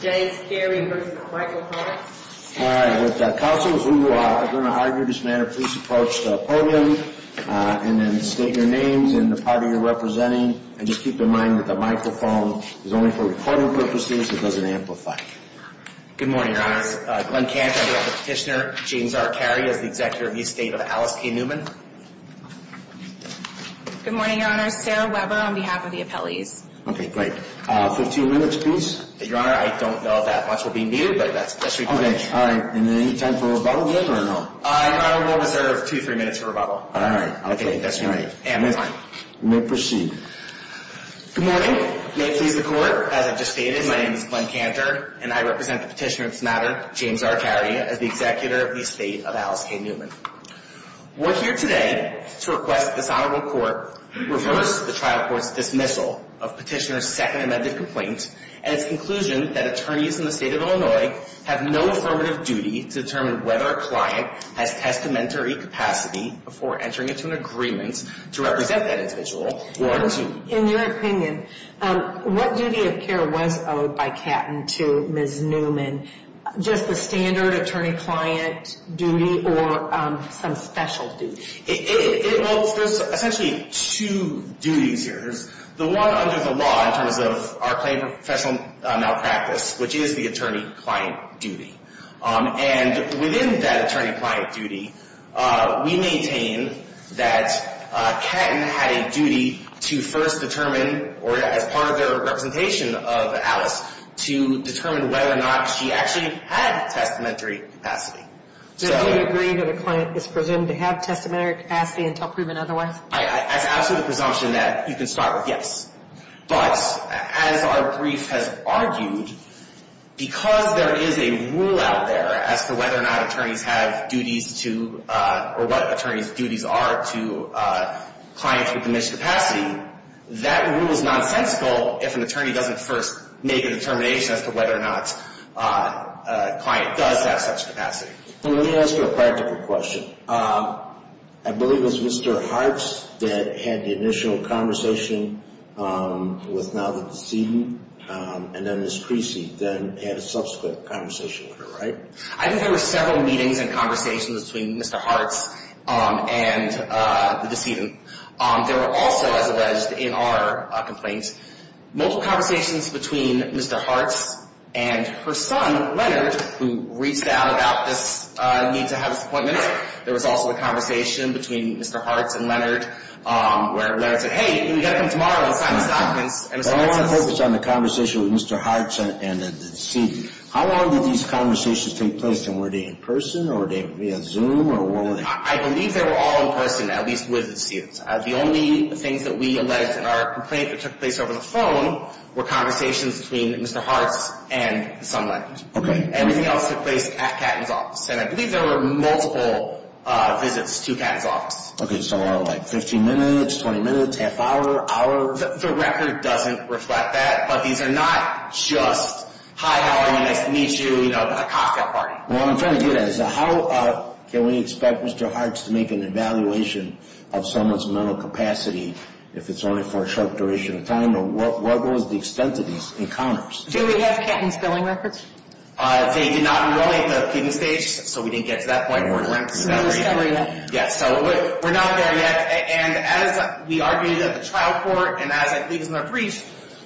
With counsels who are going to argue this matter, please approach the podium and then state your names and the party you're representing and just keep in mind that the microphone is only for recording purposes, it doesn't amplify. Good morning, Your Honor. Glenn Camp, I'd like to petitioner James R. Carey as the executive of the estate of Alice K. Newman. Good morning, Your Honor. Sarah Weber on behalf of the appellees. Okay, great. Fifteen minutes, please. Your Honor, I'd like to petitioner James R. Carey as the executive of the estate of Alice K. Newman. I don't know if that much will be needed, but that's recommended. Okay, all right. And then any time for rebuttal, yes or no? I will reserve two, three minutes for rebuttal. All right. Okay. That's all right. And this time. You may proceed. Good morning. May it please the Court. As I've just stated, my name is Glenn Cantor, and I represent the petitioner of this matter, James R. Carey, as the executor of the estate of Alice K. Newman. We're here today to request that this Honorable Court reverse the trial court's dismissal of petitioner's second amended complaint, and its conclusion that attorneys in the State of Illinois have no affirmative duty to determine whether a client has testamentary capacity before entering into an agreement to represent that individual or to. In your opinion, what duty of care was owed by Catton to Ms. Newman? Just the standard attorney-client duty or some special duty? Well, there's essentially two duties here. The one under the law in terms of our claim of professional malpractice, which is the attorney-client duty. And within that attorney-client duty, we maintain that Catton had a duty to first determine or as part of their representation of Alice to determine whether or not she actually had testamentary capacity. Do you agree that a client is presumed to have testamentary capacity until proven otherwise? It's an absolute presumption that you can start with yes. But as our brief has argued, because there is a rule out there as to whether or not attorneys have duties to or what attorneys' duties are to clients with diminished capacity, that rule is nonsensical if an attorney doesn't first make a determination as to whether or not a client does have such capacity. Let me ask you a practical question. I believe it was Mr. Hartz that had the initial conversation with now the decedent, and then Ms. Creasy then had a subsequent conversation with her, right? I think there were several meetings and conversations between Mr. Hartz and the decedent. There were also, as alleged in our complaint, multiple conversations between Mr. Hartz and her son, Leonard, who reached out about this need to have this appointment. There was also a conversation between Mr. Hartz and Leonard, where Leonard said, hey, you've got to come tomorrow and sign this document. I want to focus on the conversation with Mr. Hartz and the decedent. How long did these conversations take place, and were they in person or via Zoom? I believe they were all in person, at least with the decedent. The only things that we alleged in our complaint that took place over the phone were conversations between Mr. Hartz and someone. Everything else took place at Catton's office, and I believe there were multiple visits to Catton's office. Okay, so like 15 minutes, 20 minutes, half hour, hour? The record doesn't reflect that, but these are not just, hi, how are you, nice to meet you, you know, a cocktail party. Well, I'm trying to do that. How can we expect Mr. Hartz to make an evaluation of someone's mental capacity, if it's only for a short duration of time? What was the extent of these encounters? Do we have Catton's billing records? They did not enroll at the appealing stage, so we didn't get to that point. We're not discovering that. Yeah, so we're not there yet, and as we argued at the trial court, and as I believe was in the briefs,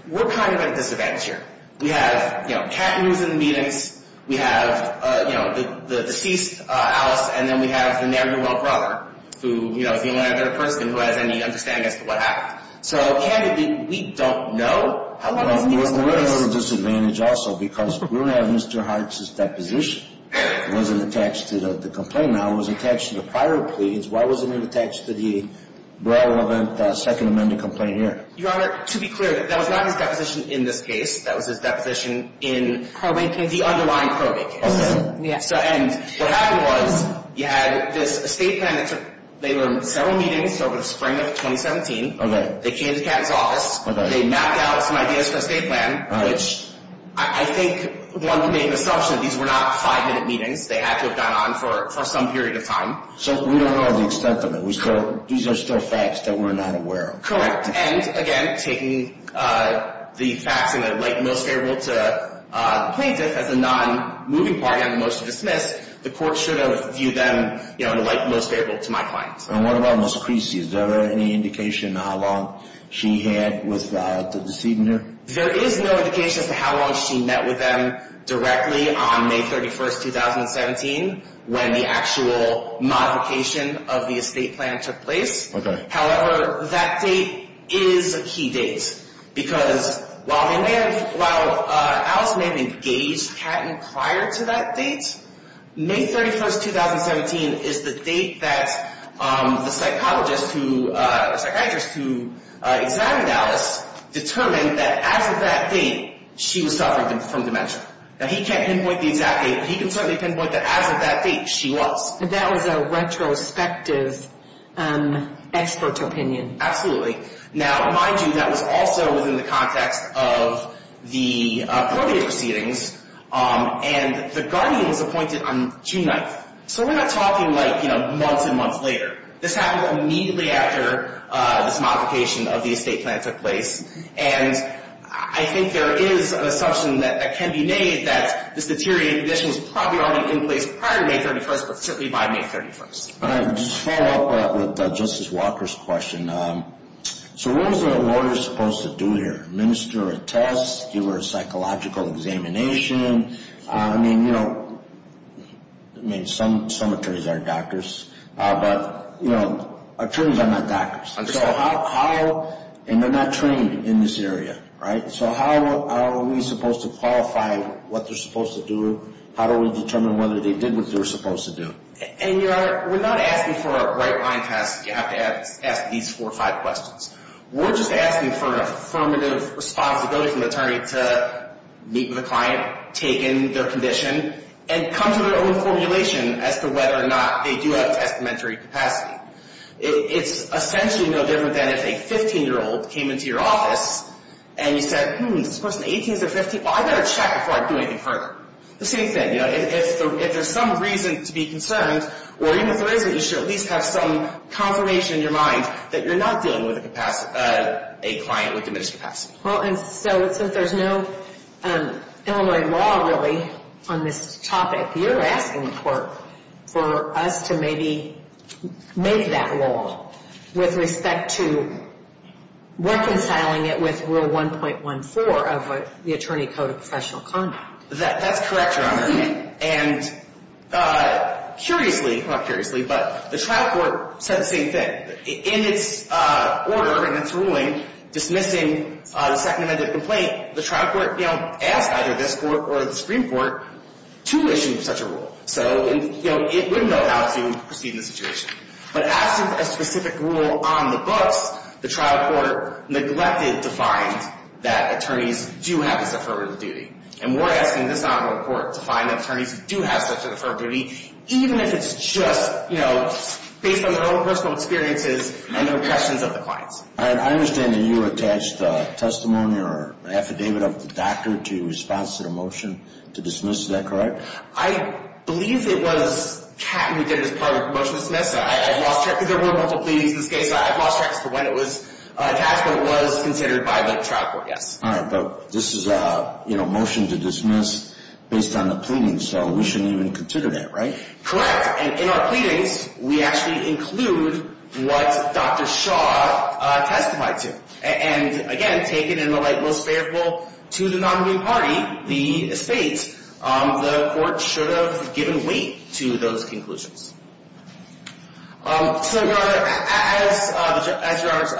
we're kind of at a disadvantage here. We have, you know, Catton was in the meetings, we have, you know, the deceased, Alice, and then we have the ne'er-do-well brother, who, you know, is the only other person who has any understanding as to what happened. So, candidly, we don't know. We're at a little disadvantage also, because we don't have Mr. Hartz's deposition. It wasn't attached to the complaint now, it was attached to the prior pleas. Why wasn't it attached to the relevant Second Amendment complaint here? Your Honor, to be clear, that was not his deposition in this case, that was his deposition in the underlying probate case. And what happened was, you had this estate plan that took, they were in several meetings over the spring of 2017. They came to Catton's office, they mapped out some ideas for an estate plan, which I think one would make an assumption that these were not five-minute meetings. They had to have gone on for some period of time. So we don't know the extent of it. These are still facts that we're not aware of. Correct. And, again, taking the facts in the light most favorable to the plaintiff, as a non-moving party on the motion to dismiss, the court should have viewed them in the light most favorable to my client. And what about Ms. Creasy? Is there any indication of how long she had with the decedent here? There is no indication as to how long she met with them directly on May 31st, 2017, when the actual modification of the estate plan took place. Okay. However, that date is a key date, because while they may have, while Alice may have engaged Catton prior to that date, May 31st, 2017 is the date that the psychologist who, the psychiatrist who examined Alice determined that as of that date, she was suffering from dementia. Now, he can't pinpoint the exact date, but he can certainly pinpoint that as of that date, she was. That was a retrospective expert opinion. Absolutely. Now, mind you, that was also within the context of the earlier proceedings, and the guardian was appointed on June 9th. So we're not talking like, you know, months and months later. This happened immediately after this modification of the estate plan took place. And I think there is an assumption that can be made that this deteriorating condition is probably only in place prior to May 31st, but certainly by May 31st. All right. Just to follow up with Justice Walker's question, so what is a lawyer supposed to do here? Administer a test? Give her a psychological examination? I mean, you know, some attorneys are doctors, but, you know, attorneys are not doctors. Understood. So how, and they're not trained in this area, right? So how are we supposed to qualify what they're supposed to do? How do we determine whether they did what they were supposed to do? And, Your Honor, we're not asking for a right-blind test. You have to ask these four or five questions. We're just asking for an affirmative responsibility from the attorney to meet with a client, take in their condition, and come to their own formulation as to whether or not they do have a testamentary capacity. It's essentially no different than if a 15-year-old came into your office and you said, hmm, is this person 18s or 15s? Well, I've got to check before I do anything further. The same thing. If there's some reason to be concerned, or even if there isn't, you should at least have some confirmation in your mind that you're not dealing with a client with diminished capacity. Well, and so since there's no Illinois law, really, on this topic, you're asking for us to maybe make that law with respect to reconciling it with Rule 1.14 of the Attorney Code of Professional Conduct. That's correct, Your Honor. And curiously, well, not curiously, but the trial court said the same thing. In its order, in its ruling dismissing the second amended complaint, the trial court asked either this court or the Supreme Court to issue such a rule. So it wouldn't know how to proceed in this situation. But as to a specific rule on the books, the trial court neglected to find that attorneys do have this affirmative duty. And we're asking this honorable court to find that attorneys do have such an affirmative duty, even if it's just, you know, based on their own personal experiences and their questions of the clients. I understand that you attached a testimony or an affidavit of the doctor to your response to the motion to dismiss that, correct? I believe it was Kat who did it as part of the motion to dismiss. I've lost track, because there were multiple pleadings in this case. I've lost track as to when it was attached, but it was considered by the trial court, yes. All right, but this is a, you know, motion to dismiss based on the pleadings, so we shouldn't even consider that, right? Correct. And in our pleadings, we actually include what Dr. Shaw testified to. And again, taken in the light most fairful to the nominating party, the estate, the court should have given weight to those conclusions. So as your Honor has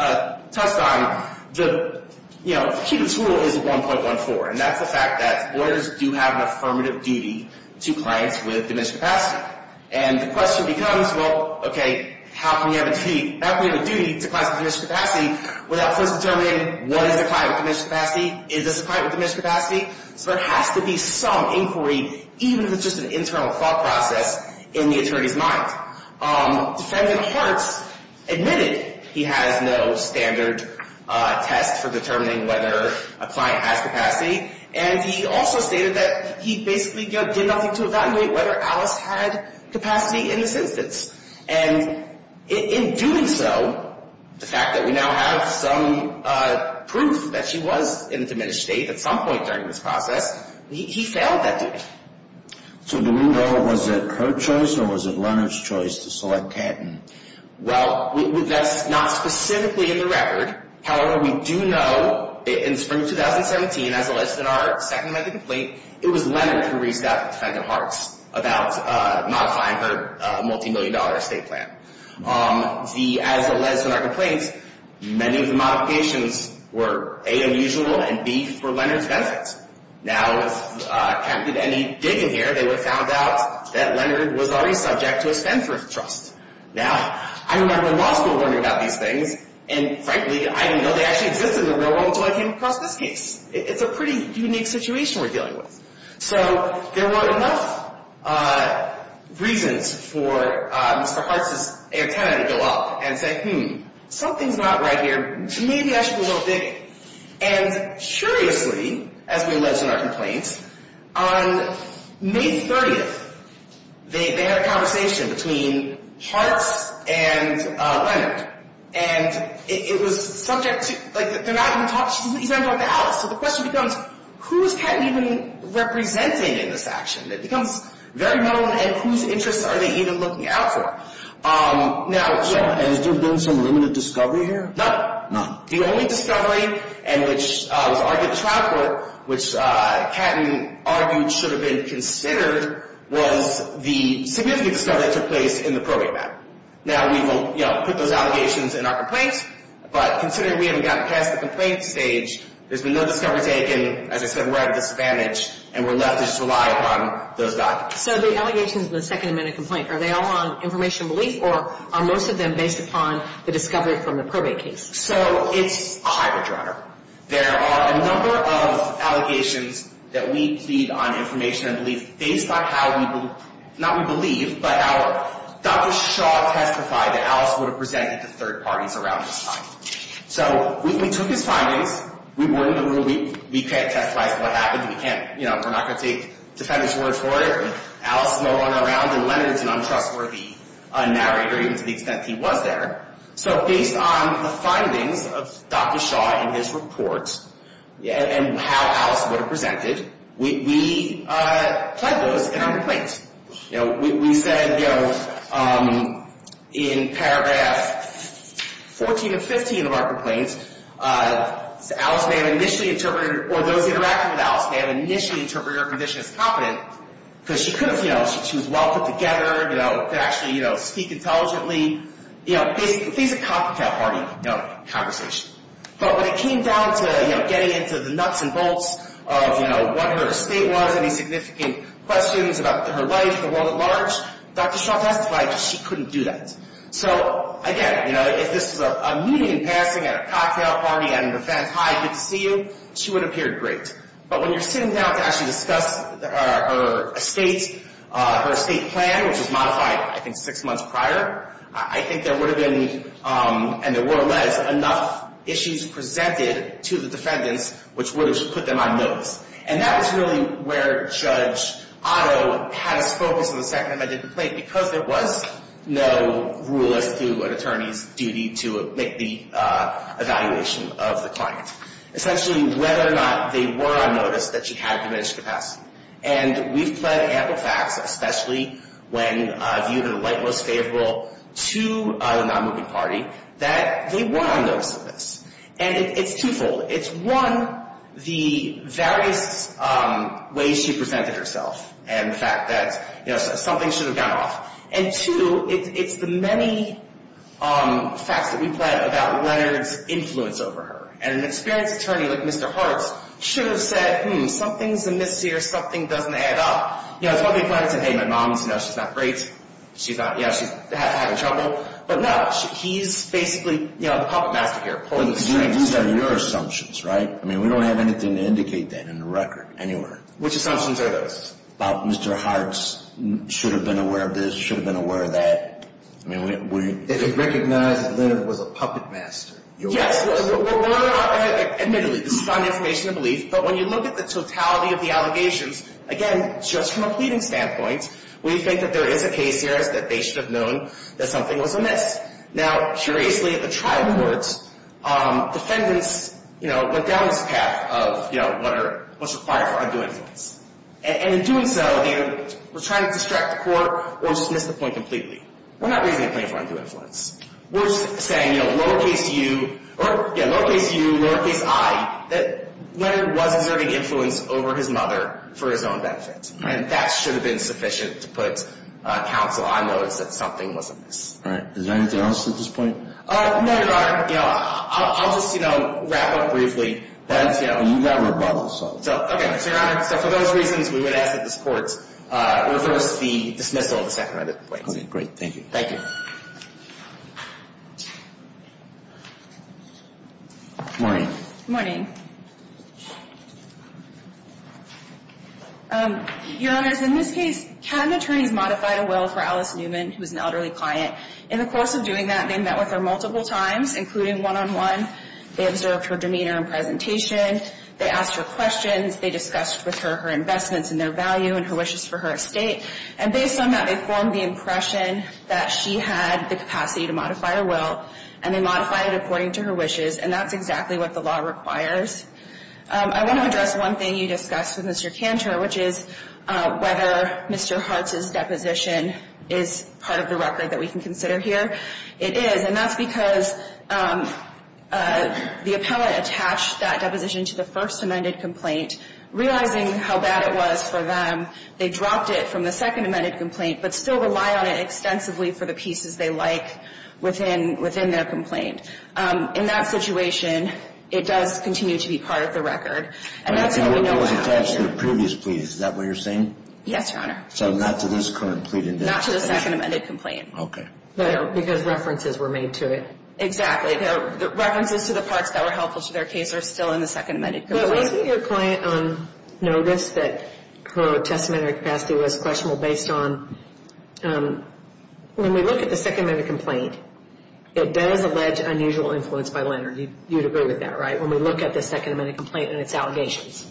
touched on, the, you know, key to the tool is 1.14. And that's the fact that lawyers do have an affirmative duty to clients with diminished capacity. And the question becomes, well, okay, how can we have a duty to clients with diminished capacity without first determining what is a client with diminished capacity? Is this a client with diminished capacity? So there has to be some inquiry, even if it's just an internal thought process in the attorney's mind. Defendant Hartz admitted he has no standard test for determining whether a client has capacity. And he also stated that he basically, you know, did nothing to evaluate whether Alice had capacity in this instance. And in doing so, the fact that we now have some proof that she was in a diminished state at some point during this process, he failed that duty. So do we know was it her choice or was it Leonard's choice to select Catton? Well, that's not specifically in the record. However, we do know in spring 2017, as alleged in our second medical complaint, it was Leonard who reached out to Defendant Hartz about modifying her multimillion-dollar estate plan. As alleged in our complaint, many of the modifications were A, unusual, and B, for Leonard's benefit. Now, if Catton did any digging here, they would have found out that Leonard was already subject to a Spendthrift trust. Now, I remember in law school learning about these things, and frankly, I didn't know they actually existed in the real world until I came across this case. It's a pretty unique situation we're dealing with. So there were enough reasons for Mr. Hartz's tenant to go up and say, hmm, something's not right here, maybe I should do a little digging. And curiously, as we alleged in our complaint, on May 30th, they had a conversation between Hartz and Leonard. And it was subject to, like, they're not even talking, he's not even talking to Alice. So the question becomes, who is Catton even representing in this action? It becomes very known, and whose interests are they even looking out for? Now, yeah. Has there been some limited discovery here? None. None. The only discovery, and which was argued at the trial court, which Catton argued should have been considered, was the significant discovery that took place in the probate matter. Now, we've put those allegations in our complaint, but considering we haven't gotten past the complaint stage, there's been no discovery taken. As I said, we're at a disadvantage, and we're left to just rely upon those documents. So the allegations in the Second Amendment complaint, are they all on information and belief, or are most of them based upon the discovery from the probate case? So it's a hybrid, Your Honor. There are a number of allegations that we plead on information and belief, based on how we, not we believe, but Dr. Shaw testified that Alice would have presented to third parties around this time. So we took his findings. We were in the room. We can't testify as to what happened. We can't, you know, we're not going to take defendant's word for it. Alice no longer around, and Leonard's an untrustworthy narrator, even to the extent he was there. So based on the findings of Dr. Shaw in his report, and how Alice would have presented, we plead those in our complaints. You know, we said, you know, in paragraph 14 and 15 of our complaints, Alice may have initially interpreted, or those interacting with Alice may have initially interpreted her condition as competent, because she could have, you know, she was well put together, you know, could actually, you know, speak intelligently. You know, basically, it's a copycat party, you know, conversation. But when it came down to, you know, getting into the nuts and bolts of, you know, what her estate was, any significant questions about her life, the world at large, Dr. Shaw testified that she couldn't do that. So, again, you know, if this was a meeting and passing at a cocktail party and the defense, hi, good to see you, she would have appeared great. But when you're sitting down to actually discuss her estate, her estate plan, which was modified, I think, six months prior, I think there would have been, and there were less, enough issues presented to the defendants, which would have put them on notice. And that was really where Judge Otto had his focus on the second amendment complaint, because there was no rule as to an attorney's duty to make the evaluation of the client. Essentially, whether or not they were on notice, that she had diminished capacity. And we've pled ample facts, especially when viewed in the light most favorable to the non-moving party, that they were on notice of this. And it's twofold. It's, one, the various ways she presented herself and the fact that, you know, something should have gone off. And, two, it's the many facts that we've pled about Leonard's influence over her. And an experienced attorney like Mr. Hartz should have said, hmm, something's amiss here, something doesn't add up. You know, it's one thing to say, hey, my mom's, you know, she's not great. She's not, you know, she's having trouble. But no, he's basically, you know, the puppet master here, pulling the strings. But these are your assumptions, right? I mean, we don't have anything to indicate that in the record, anywhere. Which assumptions are those? About Mr. Hartz should have been aware of this, should have been aware of that. I mean, we... If it recognized that Leonard was a puppet master. Yes. Admittedly, this is found information to believe. But when you look at the totality of the allegations, again, just from a pleading standpoint, we think that there is a case here that they should have known that something was amiss. Now, curiously, at the trial court, defendants, you know, went down this path of, you know, what's required for undue influence. And in doing so, they were trying to distract the court or dismiss the point completely. We're not raising a claim for undue influence. We're saying, you know, lower case U, lower case I, that Leonard was exerting influence over his mother for his own benefit. And that should have been sufficient to put counsel on notice that something was amiss. All right. Is there anything else at this point? No, Your Honor. You know, I'll just, you know, wrap up briefly. You have rebuttal, so... Okay. So, Your Honor, for those reasons, we would ask that this court reverse the dismissal of the Sacramento complaints. Okay, great. Thank you. Morning. Morning. Your Honors, in this case, cabin attorneys modified a will for Alice Newman, who was an elderly client. In the course of doing that, they met with her multiple times, including one-on-one. They observed her demeanor and presentation. They asked her questions. They discussed with her her investments and their value and her wishes for her estate. And based on that, they formed the impression that she had the capacity to modify her will and then modify it according to her wishes. And that's exactly what the law requires. I want to address one thing you discussed with Mr. Cantor, which is whether Mr. Hartz's deposition is part of the record that we can consider here. It is. And that's because the appellant attached that deposition to the first amended complaint. Realizing how bad it was for them, they dropped it from the second amended complaint but still rely on it extensively for the pieces they like within their complaint. In that situation, it does continue to be part of the record. And that's what we know about. But it was attached to the previous plea. Is that what you're saying? Yes, Your Honor. So not to this current plea. Not to the second amended complaint. Okay. Because references were made to it. Exactly. References to the parts that were helpful to their case are still in the second amended complaint. Your client noticed that her testamentary capacity was questionable based on when we look at the second amended complaint, it does allege unusual influence by Leonard. You would agree with that, right? When we look at the second amended complaint and its allegations.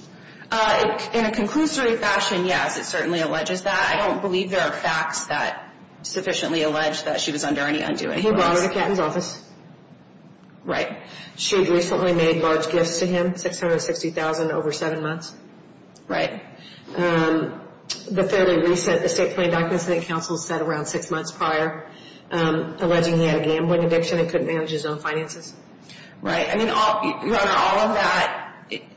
In a conclusory fashion, yes. It certainly alleges that. I don't believe there are facts that sufficiently allege that she was under any undue influence. He brought her to Captain's office. Right. She recently made large gifts to him. $660,000 over 7 months. Right. The fairly recent estate plan document said around 6 months prior alleging he had a gambling addiction and couldn't manage his own finances. Right. All of that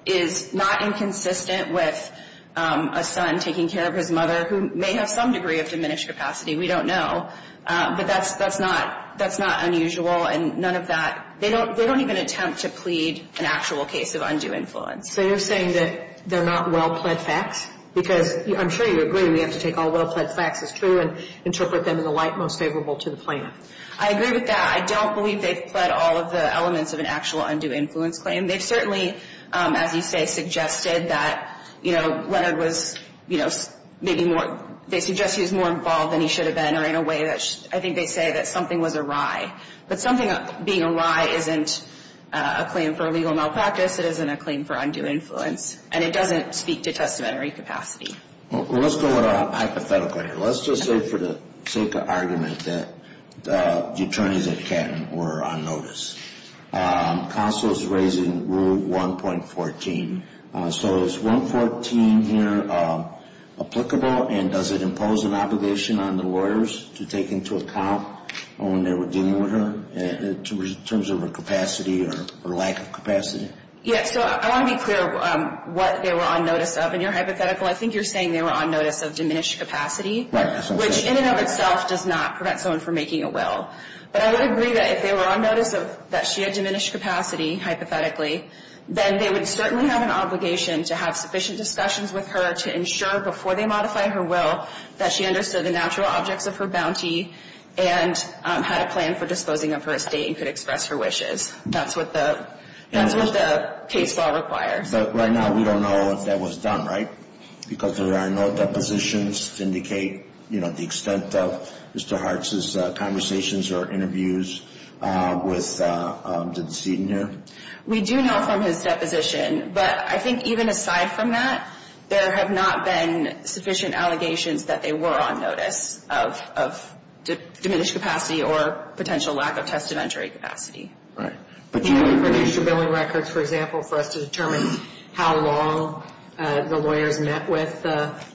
is not inconsistent with a son taking care of his mother who may have some degree of diminished capacity. We don't know. That's not unusual. They don't even attempt to plead an actual case of undue influence. So you're saying they're not well-pled facts? Because I'm sure you agree we have to take all well-pled facts as true and interpret them as the light most favorable to the plaintiff. I agree with that. I don't believe they've pled all of the elements of an actual undue influence claim. They've certainly, as you say, suggested that, you know, Leonard was, you know, they suggest he was more involved than he should have been or in a way that, I think they say that something was awry. But something being awry isn't a claim for legal malpractice. It isn't a claim for undue influence. And it doesn't speak to testamentary capacity. Well, let's go with a hypothetical here. Let's just say for the sake of argument that the attorneys at Canton were on notice. Counsel is raising rule 1.14 So is 1.14 here applicable? And does it impose an obligation on the lawyers to take into account when they were dealing with her in terms of her capacity or lack of capacity? Yeah, so I want to be clear what they were on notice of. In your hypothetical, I think you're saying they were on notice of diminished capacity. Which in and of itself does not prevent someone from making a will. But I would agree that if they were on notice that she had diminished capacity, hypothetically, then they would certainly have an obligation to have sufficient discussions with her to ensure before they modify her will that she understood the natural objects of her bounty and had a plan for disposing of her estate and could express her wishes. That's what the case law requires. But right now we don't know if that was done, right? Because there are no depositions to indicate the extent of Mr. Hartz's conversations or interviews with Ms. Newton here? We do know from his deposition. But I think even aside from that, there have not been sufficient allegations that they were on notice of diminished capacity or potential lack of testamentary capacity. Right. But you don't have additional billing records, for example, for us to determine how long the lawyers met with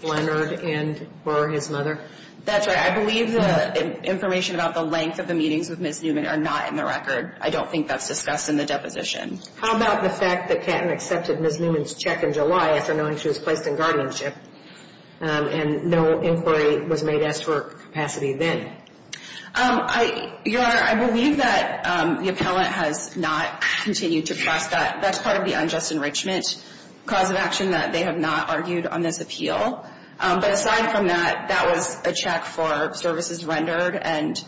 Leonard and were his mother? That's right. I believe the information about the length of the meetings with Ms. Newman are not in the record. I don't think that's discussed in the deposition. How about the fact that Catton accepted Ms. Newman's check in July after knowing she was placed in guardianship and no inquiry was made as to her capacity then? Your Honor, I believe that the appellant has not continued to press that. That's part of the unjust enrichment cause of action that they have not argued on this appeal. But aside from that, that was a check for services rendered and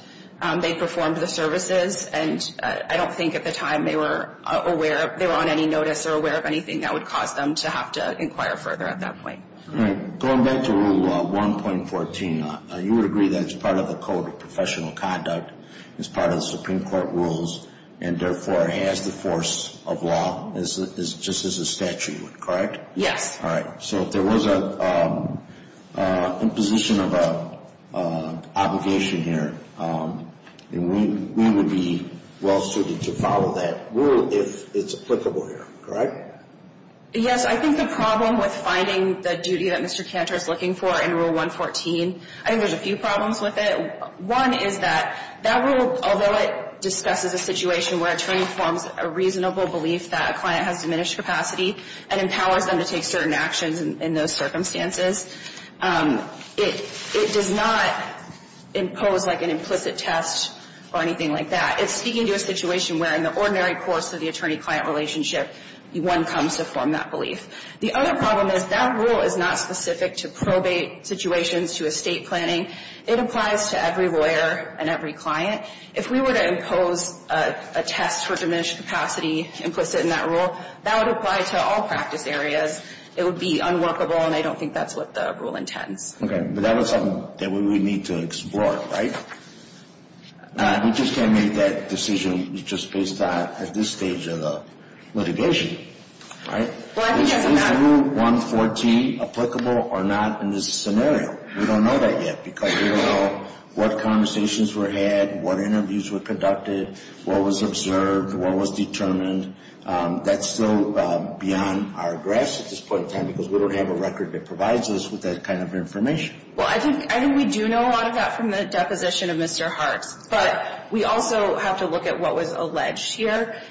they performed the services and I don't think at the time they were on any notice or aware of anything that would cause them to have to inquire further at that point. Going back to Rule 1.14, you would agree that it's part of the Code of Professional Conduct, it's part of the Supreme Court rules, and therefore has the force of law, just as the statute would, correct? Yes. So if there was an imposition of obligation here, we would be well suited to follow that rule if it's applicable here, correct? Yes, I think the problem with finding the duty that Mr. Cantor is looking for in Rule 1.14, I think there's a few problems with it. One is that that rule, although it discusses a situation where an attorney forms a reasonable belief that a client has diminished capacity and empowers them to take certain actions in those circumstances, it does not impose like an implicit test or anything like that. It's speaking to a situation where in the ordinary course of the attorney-client relationship one comes to form that belief. The other problem is that rule is not specific to probate situations, to estate planning. It applies to every lawyer and every client. If we were to impose a test for diminished capacity implicit in that rule, that would apply to all practice areas. It would be unworkable and I don't think that's what the rule intends. Okay, but that was something that we would need to explore, right? We just can't make that decision just based on at this stage of the litigation, right? Is Rule 1.14 applicable or not in this scenario? We don't know that yet because we don't know what conversations were had, what interviews were conducted, what was observed, what was determined. That's still beyond our grasp at this point in time because we don't have a record that provides us with that kind of information. I think we do know a lot of that from the deposition of Mr. Hartz, but we also have to look at what was alleged here.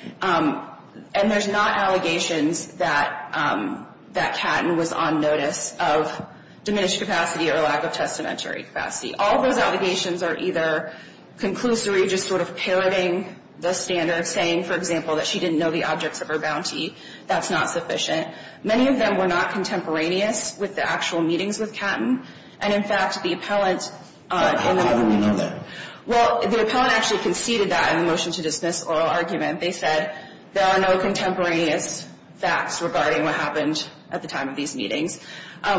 There's not allegations that Catton was on notice of diminished capacity or lack of testamentary capacity. All those allegations are either conclusory, just sort of parroting the standard, saying, for example, that she didn't know the objects of her bounty. That's not sufficient. Many of them were not contemporaneous with the actual meetings with Catton, and in fact the appellant... Well, the appellant actually conceded that in the motion to dismiss oral argument. They said there are no contemporaneous facts regarding what happened at the time of these meetings.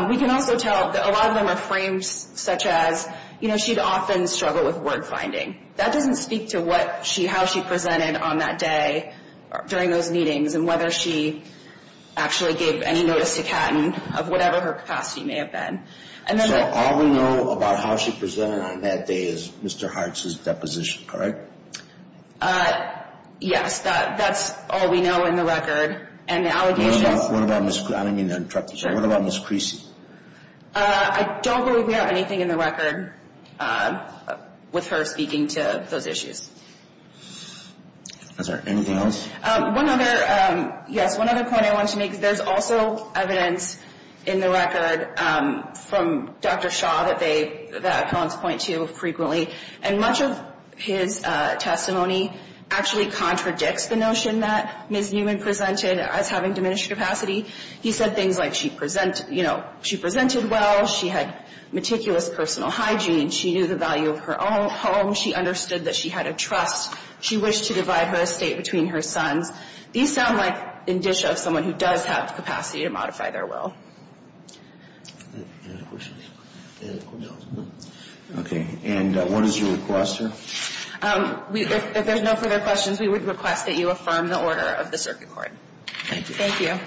We can also tell that a lot of them are frames such as she'd often struggle with word finding. That doesn't speak to how she presented on that day during those meetings and whether she actually gave any notice to Catton of whatever her capacity may have been. So all we know about how she presented on that day is Mr. Hartz's deposition, correct? Yes, that's all we know in the record, and the allegations... I don't mean to interrupt you. What about Ms. Creasy? I don't believe we have anything in the record with her speaking to those issues. Is there anything else? Yes, one other point I wanted to make. There's also evidence in the record from Dr. Shaw that appellants point to frequently, and much of his testimony actually contradicts the notion that Ms. Newman presented as having diminished capacity. He said things like she presented well, she had meticulous personal hygiene, she knew the value of her own home, she understood that she had a trust, she wished to divide her estate between her sons. These sound like in disho of someone who does have the capacity to modify their will. Okay. And what is your request here? If there's no further questions, we would request that you affirm the order of the hearing.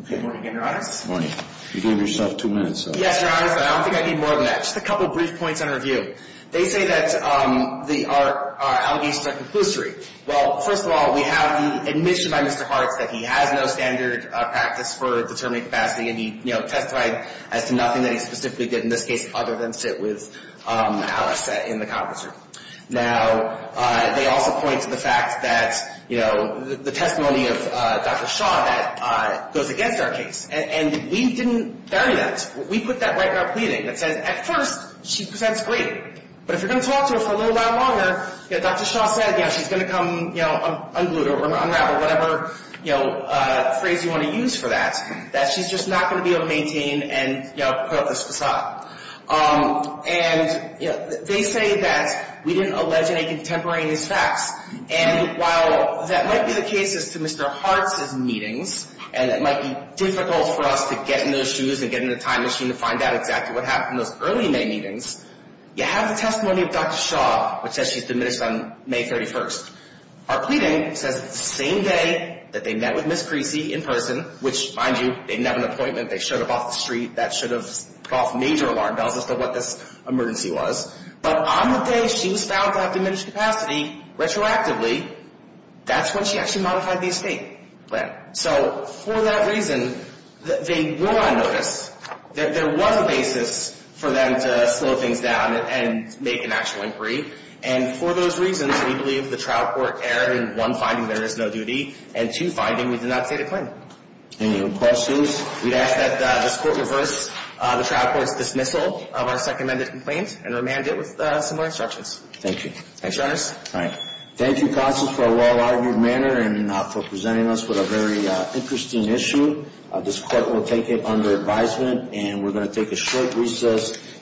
Okay, good morning again, Your Honor. Good morning. You gave yourself two minutes. Yes, Your Honor, but I don't think I need more than that. Just a couple brief points on review. They say that our allegations are conclusory. Well, first of all, we have the admission by Mr. Hart that he has no standard practice for determining capacity, and he testified as to nothing that he specifically did in this case other than sit with Alice in the conference room. Now, they also point to the fact that, you know, the testimony of Dr. Shaw that goes against our case, and we didn't bury that. We put that right in our pleading that says, at first, she presents great, but if you're going to talk to her for a little while longer, Dr. Shaw said she's going to come, you know, unglue or unravel whatever, you know, phrase you want to use for that, that she's just not going to be able to maintain and put up this facade. And, you know, they say that we didn't allege any contemporary in these facts, and while that might be the case as to Mr. Hart's meetings, and it might be difficult for us to get in those shoes and get in the time machine to find out exactly what happened in those early May meetings, you have the testimony of Dr. Shaw, which says she's diminished on May 31st. Our pleading says that the same day that they met with Ms. Creasy in person, which, mind you, they didn't have an appointment, they showed up off the street, that should have put off major alarm bells as to what this emergency was, but on the day she was found to have diminished capacity, retroactively, that's when she actually modified the estate plan. So, for that reason, they were on notice. There was a basis for them to slow things down and make an actual inquiry, and for those reasons, we believe the trial court erred in, one, finding there is no duty, and, two, finding we did not state a claim. Any other questions? We ask that this court reverse the trial court's dismissal of our second amended complaint and remand it with some more instructions. Thank you. Thanks, Your Honors. Thank you, Constance, for a well-argued manner and for presenting us with a very interesting issue. This court will take it under advisement and we're going to take a short recess.